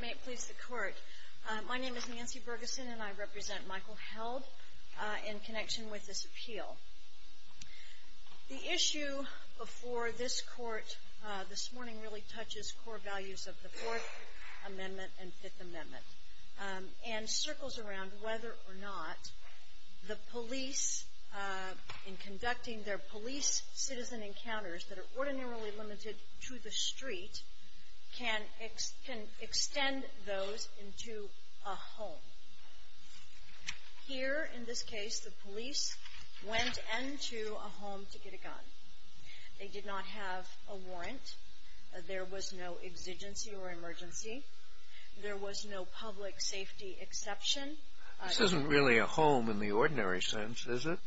May it please the Court. My name is Nancy Bergeson and I represent Michael Held in connection with this appeal. The issue before this Court this morning really touches core values of the Fourth Amendment and Fifth Amendment and circles around whether or not the police in the street can extend those into a home. Here in this case the police went into a home to get a gun. They did not have a warrant. There was no exigency or emergency. There was no public safety exception. This isn't really a home in the ordinary sense is it?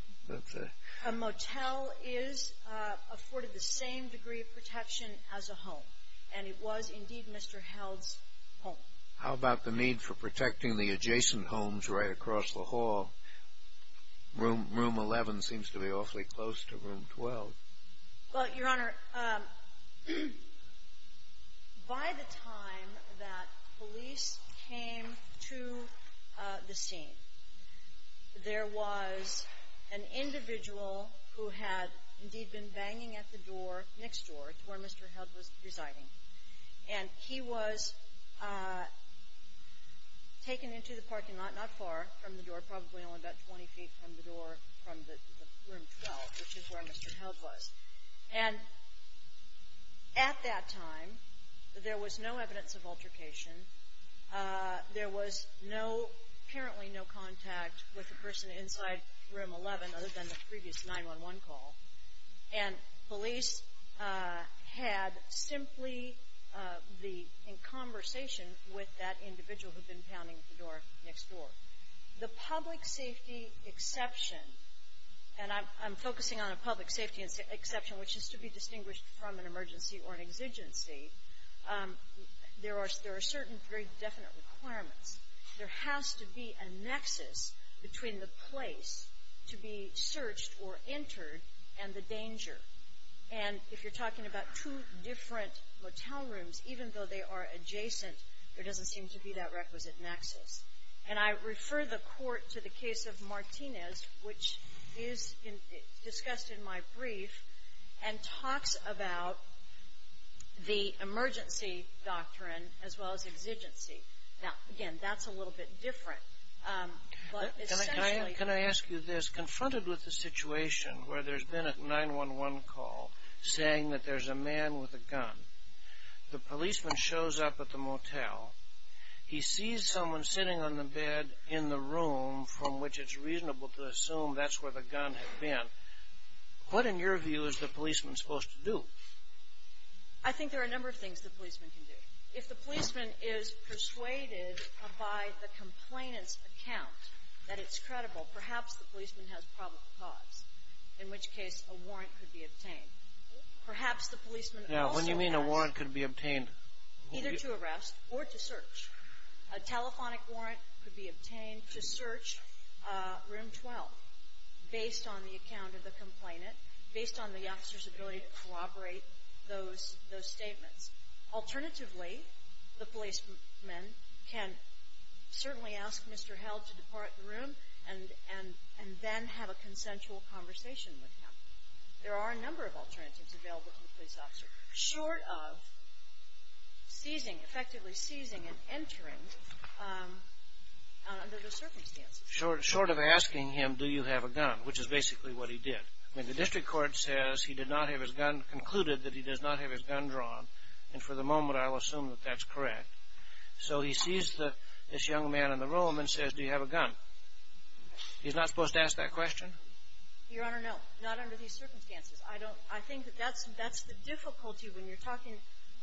A motel is afforded the same degree of protection as a home and it was indeed Mr. Held's home. How about the need for protecting the adjacent homes right across the hall? Room 11 seems to be awfully close to room 12. Well, Your Honor, by the time that police came to the home, Mr. Held had indeed been banging at the door next door to where Mr. Held was residing. And he was taken into the parking lot not far from the door, probably only about 20 feet from the door from the room 12, which is where Mr. Held was. And at that time there was no evidence of altercation. There was no, apparently no contact with the person inside room 11 other than the previous 911 call. And police had simply been in conversation with that individual who had been pounding the door next door. The public safety exception, and I'm focusing on a public safety exception, which is to be distinguished from an emergency or an exigency, there are certain very definite requirements. There has to be a nexus between the place to be searched or entered and the danger. And if you're talking about two different motel rooms, even though they are adjacent, there doesn't seem to be that requisite nexus. And I refer the Court to the case of Martinez, which is discussed in my brief, and talks about the emergency doctrine as well as exigency. Now, again, that's a little bit different. But essentially Can I ask you this? Confronted with the situation where there's been a 911 call saying that there's a man with a gun, the policeman shows up at the motel, he sees someone sitting on the bed in the room from which it's reasonable to assume that's where the gun had been, what in your view is the policeman supposed to do? I think there are a number of things the policeman can do. If the policeman is persuaded by the complainant's account that it's credible, perhaps the policeman has probable cause, in which case a warrant could be obtained. Perhaps the policeman also has... Now, what do you mean a warrant could be obtained? Either to arrest or to search. A telephonic warrant could be obtained to search room 12 based on the account of the complainant, based on the officer's ability to corroborate those statements. Alternatively, the policeman can certainly ask Mr. Held to depart the room and then have a consensual conversation with him. There are a number of alternatives available to the police officer, short of seizing, effectively seizing and entering under those circumstances. Short of asking him, do you have a gun, which is basically what he did. I mean, the district court says he did not have his gun, concluded that he does not have his gun drawn, and for the moment I will assume that that's correct. So he sees this young man in the room and says, do you have a gun? He's not supposed to ask that question? Your Honor, no. Not under these circumstances. I think that's the difficulty when you're talking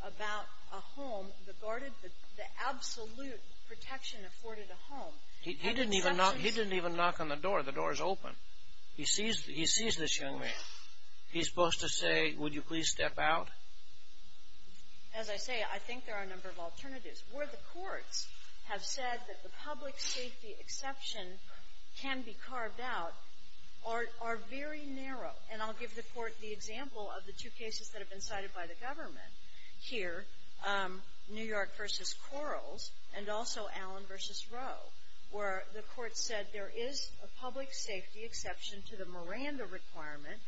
about a home, the guarded, the absolute protection afforded a home. He didn't even knock on the door. The door is open. He sees this young man. He's supposed to say, would you please step out? As I say, I think there are a number of alternatives. Where the courts have said that the public safety exception can be carved out are very narrow. And I'll give the court the example of the two cases that have been cited by the government here, New York v. Quarles and also where the court said there is a public safety exception to the Miranda requirement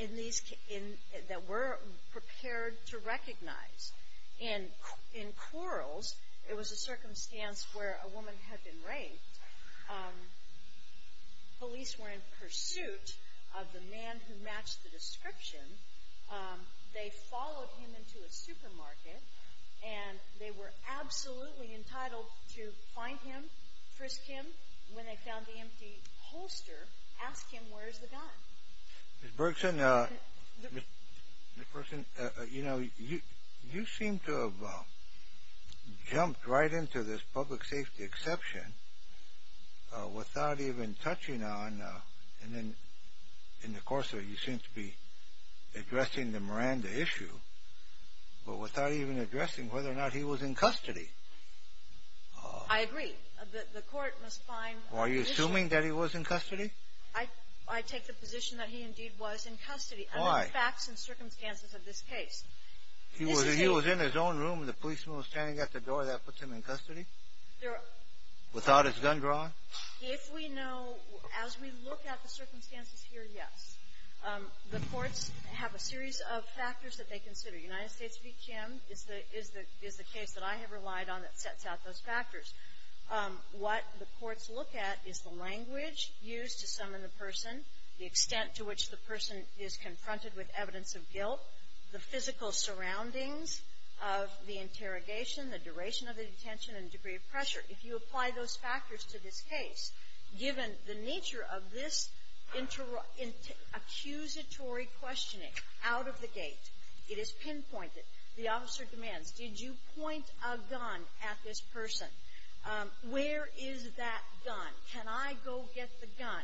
in these cases that we're prepared to recognize. In Quarles, it was a circumstance where a woman had been raped. Police were in pursuit of the man who matched the description. They were absolutely entitled to find him, frisk him. When they found the empty holster, ask him, where's the gun? Ms. Bergson, you know, you seem to have jumped right into this public safety exception without even touching on, and then in the course of it, you seem to be addressing the Miranda issue, but without even addressing whether or not he was in custody. I agree. The court must find the issue. Are you assuming that he was in custody? I take the position that he indeed was in custody. Why? And there are facts and circumstances of this case. He was in his own room and the policeman was standing at the door. That puts him in custody? Without his gun drawn? If we know, as we look at the circumstances here, yes. The courts have a series of factors that they consider. United States v. Kim is the case that I have relied on that sets out those factors. What the courts look at is the language used to summon the person, the extent to which the person is confronted with evidence of guilt, the physical surroundings of the interrogation, the duration of the detention, and degree of pressure. If you apply those factors to this case, given the nature of this accusatory questioning out of the gate, it is pinpointed, the officer demands, did you point a gun at this person? Where is that gun? Can I go get the gun?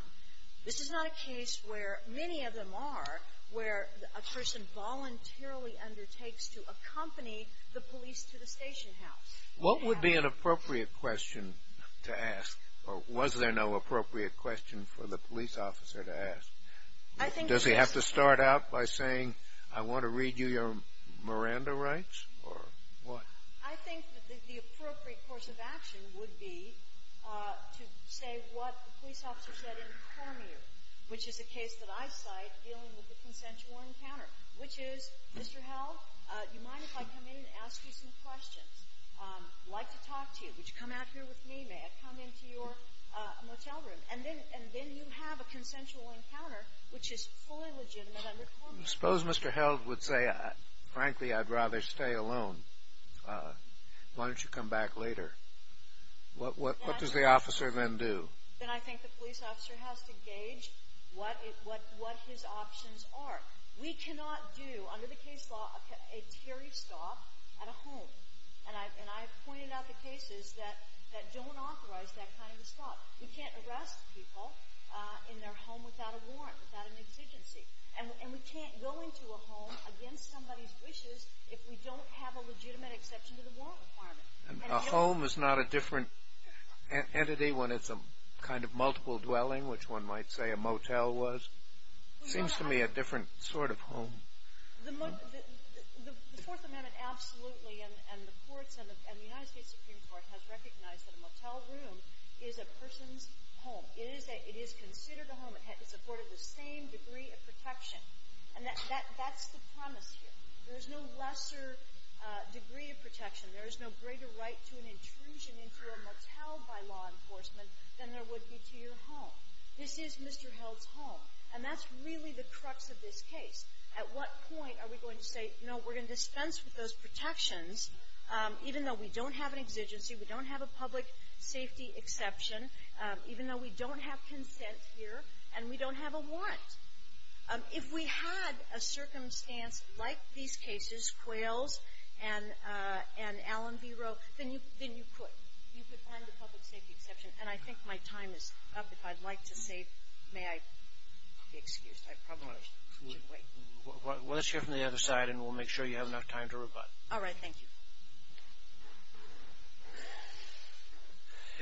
This is not a case where many of them are where a person voluntarily undertakes to accompany the police to the station house. What would be an appropriate question to ask, or was there no appropriate question for the police officer to ask? Does he have to start out by saying, I want to read you your Miranda rights, or what? I think that the appropriate course of action would be to say what the police officer said in Cormier, which is a case that I cite dealing with the consensual encounter, which is, Mr. Held, I'd like to talk to you. Would you come out here with me? May I come into your motel room? And then you have a consensual encounter, which is fully legitimate under Cormier. I suppose Mr. Held would say, frankly, I'd rather stay alone. Why don't you come back later? What does the officer then do? Then I think the police officer has to gauge what his options are. We cannot do, under the case law, a terry stop at a home. And I've pointed out the cases that don't authorize that kind of a stop. We can't arrest people in their home without a warrant, without an exigency. And we can't go into a home against somebody's wishes if we don't have a legitimate exception to the warrant requirement. And a home is not a different entity when it's a kind of multiple dwelling, which one might say a motel was? Seems to me a different sort of home. The Fourth Amendment absolutely, and the courts and the United States Supreme Court has recognized that a motel room is a person's home. It is considered a home. It's afforded the same degree of protection. And that's the promise here. There is no lesser degree of protection. There is no greater right to an intrusion into a motel by law enforcement than there would be to your home. This is Mr. Held's home. And that's really the crux of this case. At what point are we going to say, no, we're going to dispense with those protections even though we don't have an exigency, we don't have a public safety exception, even though we don't have consent here, and we don't have a warrant? If we had a circumstance like these cases, Quails and Allen v. Roe, then you could. You could find a public safety exception. And I think my time is up. If I'd like to say, may I be excused? I probably should wait. Well, let's hear from the other side, and we'll make sure you have enough time to rebut. All right. Thank you.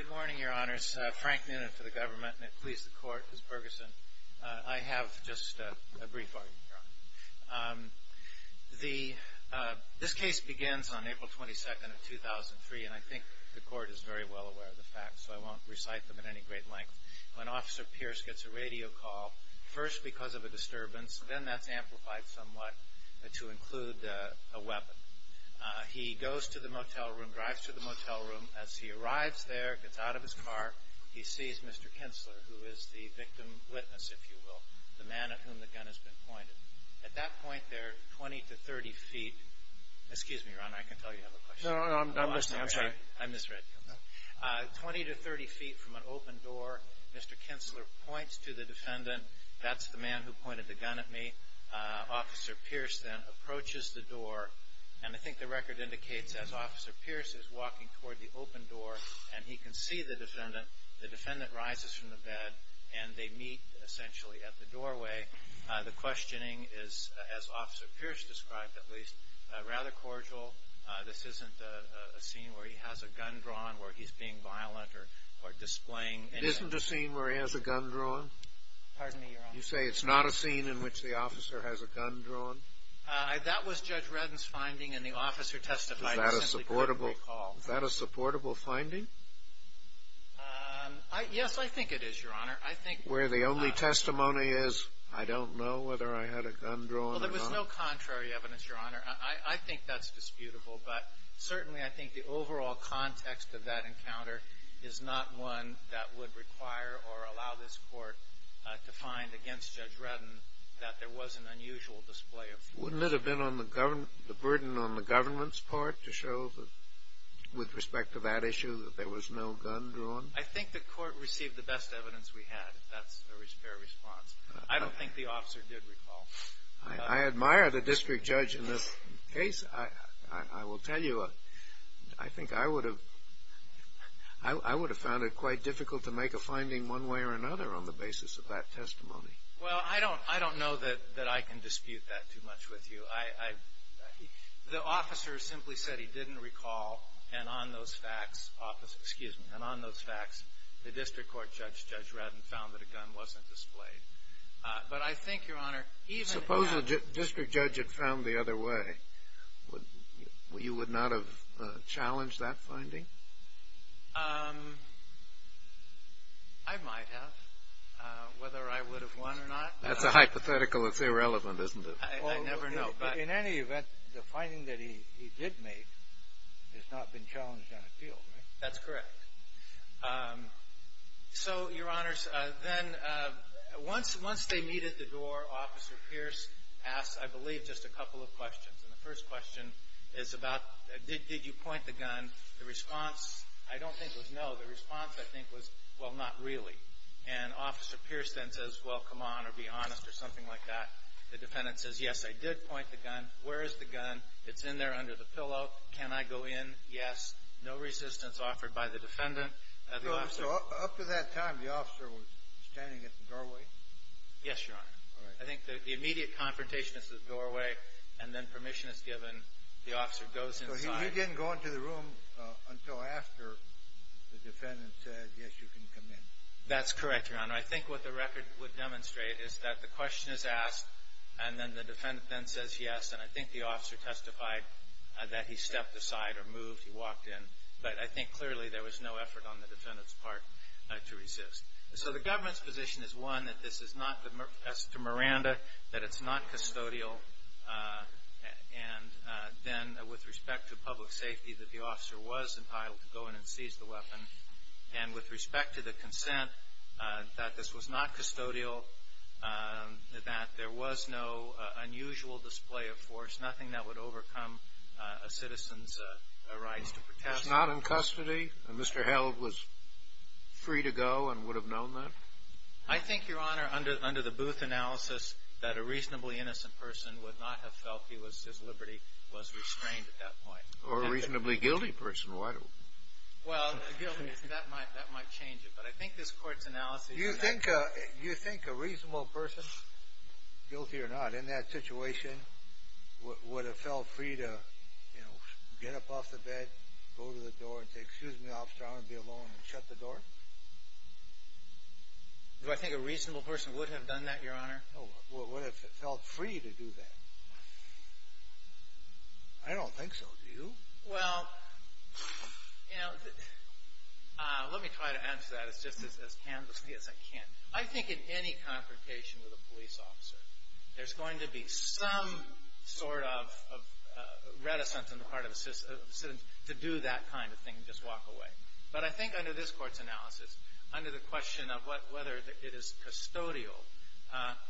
Good morning, Your Honors. Frank Noonan for the government, and it pleases the Court, Ms. Bergeson. I have just a brief argument, Your Honor. This case begins on April 22nd of 2003, and I think the Court is very well aware of the facts, so I won't recite them at any great length. When Officer Pierce gets a radio call, first because of a disturbance, then that's amplified somewhat to include a weapon. He goes to the motel room, drives to the motel room. As he arrives there, gets out of his car, he sees Mr. Kinsler, who is the victim witness, if you will, the man at whom the gun has been pointed. At that point there, 20 to 30 feet – excuse me, Your Honor, I can tell you have a question. No, I'm listening. I'm sorry. I misread you. 20 to 30 feet from an open door, Mr. Kinsler points to the defendant. That's the man who pointed the gun at me. Officer Pierce then approaches the door, and I think the record indicates as Officer Pierce is walking toward the open door and he can see the defendant, the defendant rises from the bed and they meet essentially at the doorway. The questioning is, as Officer Pierce described at least, rather cordial. This isn't a scene where he has a gun drawn, where he's being violent or displaying any – It isn't a scene where he has a gun drawn? Pardon me, Your Honor. You say it's not a scene in which the officer has a gun drawn? That was Judge Reddin's finding and the officer testified. Is that a supportable – I simply couldn't recall. Is that a supportable finding? Yes, I think it is, Your Honor. I think – Where the only testimony is, I don't know whether I had a gun drawn or not? Well, there was no contrary evidence, Your Honor. I think that's disputable, but certainly I think the overall context of that encounter is not one that would require or allow this court to find against Judge Reddin that there was an unusual display of – Wouldn't it have been on the burden on the government's part to show that with respect to that issue that there was no gun drawn? I think the court received the best evidence we had, if that's a fair response. I don't think the officer did recall. I admire the district judge in this case. I will tell you, I think I would have found it quite difficult to make a finding one way or another on the basis of that testimony. Well, I don't know that I can dispute that too much with you. The officer simply said he didn't recall, and on those facts, the district court judge, Judge Reddin, found that a gun wasn't displayed. But I think, Your Honor, even – Suppose the district judge had found the other way. You would not have challenged that finding? I might have, whether I would have won or not. That's a hypothetical. It's irrelevant, isn't it? I never know, but – In any event, the finding that he did make has not been challenged on appeal, right? That's correct. So, Your Honors, then once they meet at the door, Officer Pierce asks, I believe, just a couple of questions. And the first question is about, did you point the gun? The response, I don't think, was no. The response, I think, was, well, not really. And Officer Pierce then says, well, come on, or be honest, or something like that. The defendant says, yes, I did point the gun. Where is the gun? It's in there under the So up to that time, the officer was standing at the doorway? Yes, Your Honor. All right. I think the immediate confrontation is at the doorway, and then permission is given. The officer goes inside. So he didn't go into the room until after the defendant said, yes, you can come in. That's correct, Your Honor. I think what the record would demonstrate is that the question is asked, and then the defendant then says yes. And I think the officer testified that he stepped aside or moved. He walked in. But I think, clearly, there was no effort on the defendant's part to resist. So the government's position is, one, that this is not, as to Miranda, that it's not custodial. And then, with respect to public safety, that the officer was entitled to go in and seize the weapon. And with respect to the consent, that this was not custodial, that there was no unusual display of force, nothing that would overcome a citizen's rights to protest. It's not in custody? And Mr. Held was free to go and would have known that? I think, Your Honor, under the Booth analysis, that a reasonably innocent person would not have felt his liberty was restrained at that point. Or a reasonably guilty person. Why? Well, guilty, that might change it. But I think this Court's analysis of that You think a reasonable person, guilty or not, in that situation, would have felt free to, you know, get up off the bed, go to the door, and say, excuse me, officer, I want to be alone, and shut the door? Do I think a reasonable person would have done that, Your Honor? Would have felt free to do that. I don't think so. Do you? Well, you know, let me try to answer that as just as candidly as I can. I think in any confrontation with a police officer, there's going to be some sort of reticence on the part of a citizen to do that kind of thing and just walk away. But I think under this Court's analysis, under the question of whether it is custodial,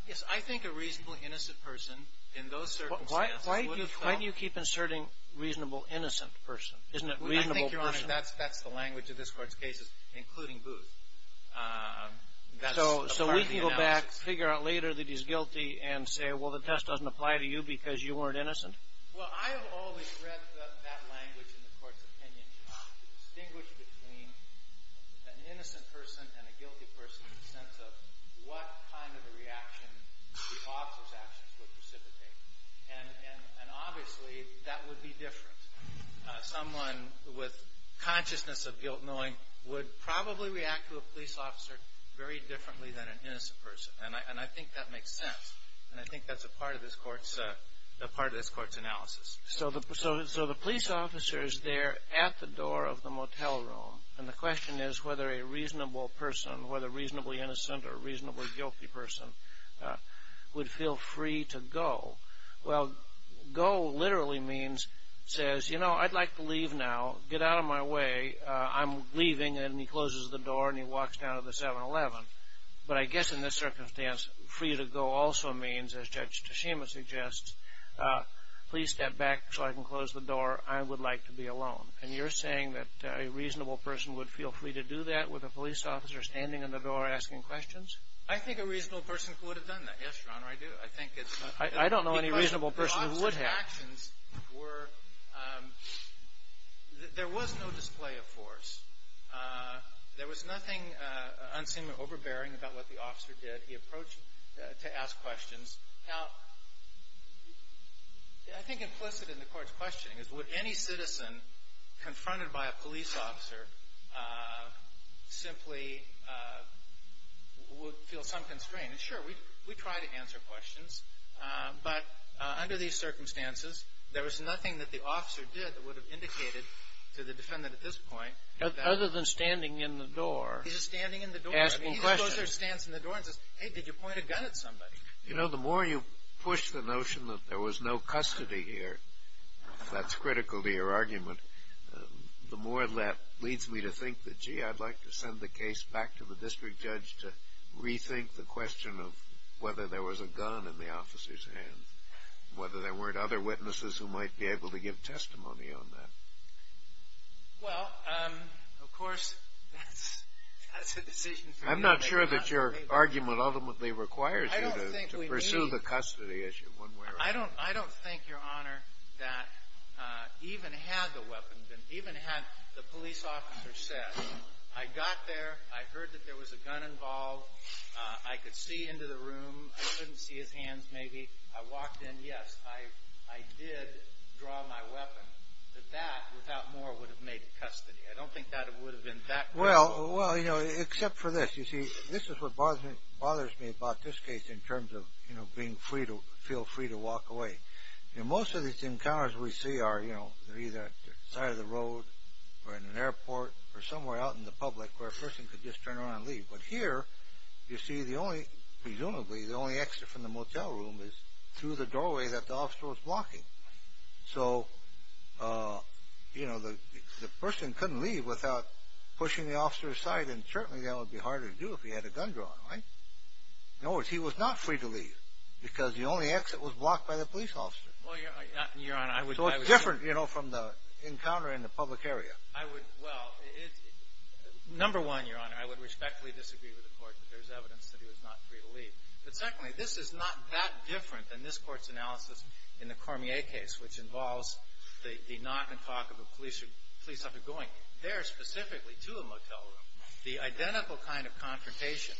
yes, I think a reasonably innocent person in those circumstances would have felt Why do you keep inserting reasonable innocent person? Isn't it reasonable person? I think, Your Honor, that's the language of this Court's cases, including Booth. That's a part of the analysis. So we can go back, figure out later that he's guilty, and say, well, the test doesn't apply to you because you weren't innocent? Well, I have always read that language in the Court's opinion to distinguish between an innocent person and a guilty person in the sense of what kind of a reaction the officer's going to take. And obviously, that would be different. Someone with consciousness of guilt knowing would probably react to a police officer very differently than an innocent person. And I think that makes sense. And I think that's a part of this Court's analysis. So the police officer is there at the door of the motel room. And the question is whether a reasonable person, whether reasonably innocent or reasonably to go. Well, go literally means, says, you know, I'd like to leave now. Get out of my way. I'm leaving. And he closes the door and he walks down to the 7-Eleven. But I guess in this circumstance, free to go also means, as Judge Teshima suggests, please step back so I can close the door. I would like to be alone. And you're saying that a reasonable person would feel free to do that with a police officer standing in the door asking questions? I think a reasonable person would have done that. Yes, Your Honor, I do. I don't know any reasonable person who would have. There was no display of force. There was nothing unseemly overbearing about what the officer did. He approached to ask questions. Now, I think implicit in the Court's questioning is would any citizen confronted by a police officer simply feel some constraint? And sure, we try to answer questions. But under these circumstances, there was nothing that the officer did that would have indicated to the defendant at this point. Other than standing in the door. He's standing in the door. Asking questions. He just goes and stands in the door and says, hey, did you point a gun at somebody? You know, the more you push the notion that there was no custody here, if that's critical to your argument, the more that leads me to think that, gee, I'd like to send the case back to the district judge to rethink the question of whether there was a gun in the officer's hands. Whether there weren't other witnesses who might be able to give testimony on that. Well, of course, that's a decision for you. I'm not sure that your argument ultimately requires you to pursue the custody issue. I don't think, Your Honor, that even had the police officer said, I got there. I heard that there was a gun involved. I could see into the room. I couldn't see his hands, maybe. I walked in. Yes, I did draw my weapon. But that, without more, would have made custody. I don't think that would have been that critical. Well, you know, except for this. You see, this is what bothers me about this case in terms of, you know, being free to feel free to walk away. in an airport or somewhere out in the public where a person could just turn around and leave. But here, you see, the only, presumably, the only exit from the motel room is through the doorway that the officer was blocking. So, you know, the person couldn't leave without pushing the officer aside, and certainly that would be harder to do if he had a gun drawn, right? In other words, he was not free to leave because the only exit was blocked by the police officer. Well, Your Honor, I would So it's different, you know, from the encounter in the public area. I would, well, number one, Your Honor, I would respectfully disagree with the Court that there's evidence that he was not free to leave. But secondly, this is not that different than this Court's analysis in the Cormier case, which involves the knock and talk of a police officer going there specifically to a motel room. The identical kind of confrontation.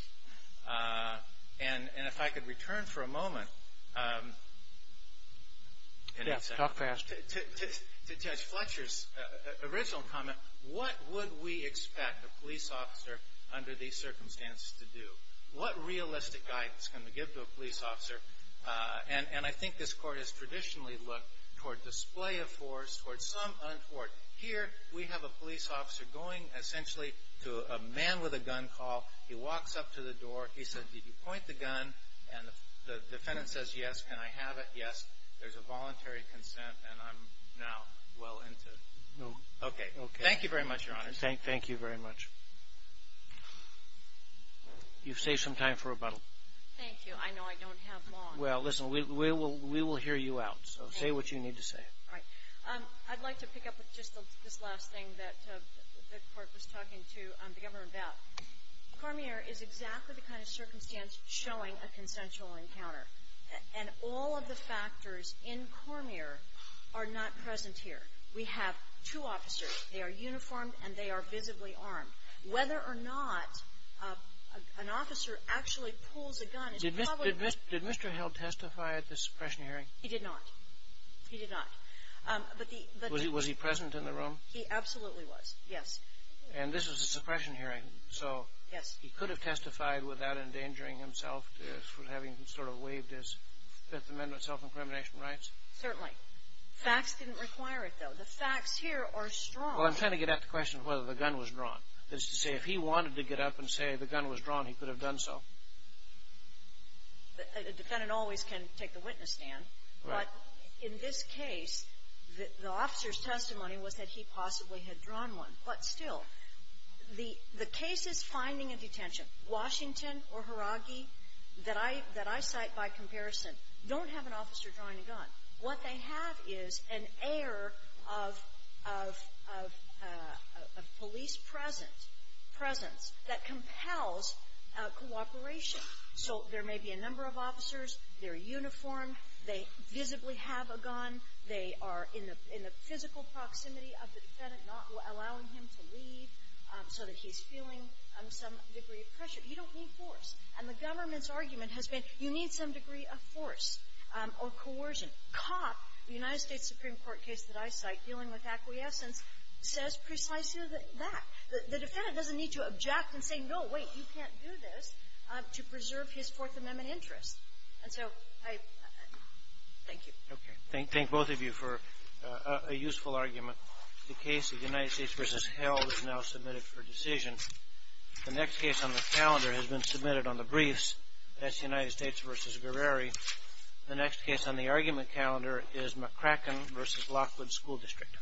And if I could return for a moment to Judge Fletcher's original comment, what would we expect a police officer under these circumstances to do? What realistic guidance can we give to a police officer? And I think this Court has traditionally looked toward display of force, toward some untoward. Here, we have a police officer going essentially to a man with a gun call. He walks up to the door. He says, did you point the gun? And the defendant says, yes. Can I have it? Yes. There's a voluntary consent, and I'm now well into it. No. Okay. Thank you very much, Your Honor. Thank you very much. You've saved some time for rebuttal. Thank you. I know I don't have long. Well, listen, we will hear you out, so say what you need to say. All right. I'd like to pick up with just this last thing that the Court was talking to the Governor about. Cormier is exactly the kind of circumstance showing a consensual encounter. And all of the factors in Cormier are not present here. We have two officers. They are uniformed, and they are visibly armed. Whether or not an officer actually pulls a gun is probably a risk. Did Mr. Hill testify at this suppression hearing? He did not. He did not. Was he present in the room? He absolutely was, yes. And this was a suppression hearing, so he could have testified without endangering himself for having sort of waived his Fifth Amendment self-incrimination rights? Certainly. Facts didn't require it, though. The facts here are strong. Well, I'm trying to get at the question of whether the gun was drawn. That is to say, if he wanted to get up and say the gun was drawn, he could have done so. A defendant always can take the witness stand. Right. But in this case, the officer's testimony was that he possibly had drawn one. But still, the case is finding and detention. Washington or Haragi that I cite by comparison don't have an officer drawing a gun. What they have is an air of police presence that compels cooperation. So there may be a number of officers. They're uniformed. They visibly have a gun. They are in the physical proximity of the defendant, not allowing him to leave so that he's feeling some degree of pressure. You don't need force. And the government's argument has been you need some degree of force or coercion. Cop, the United States Supreme Court case that I cite dealing with acquiescence, says precisely that. The defendant doesn't need to object and say, no, wait, you can't do this, to preserve his Fourth Amendment interests. And so I thank you. Okay. Thank both of you for a useful argument. The case of United States v. Held is now submitted for decision. The next case on the calendar has been submitted on the briefs. That's United States v. Guerreri. The next case on the argument calendar is McCracken v. Lockwood School District. Thank you.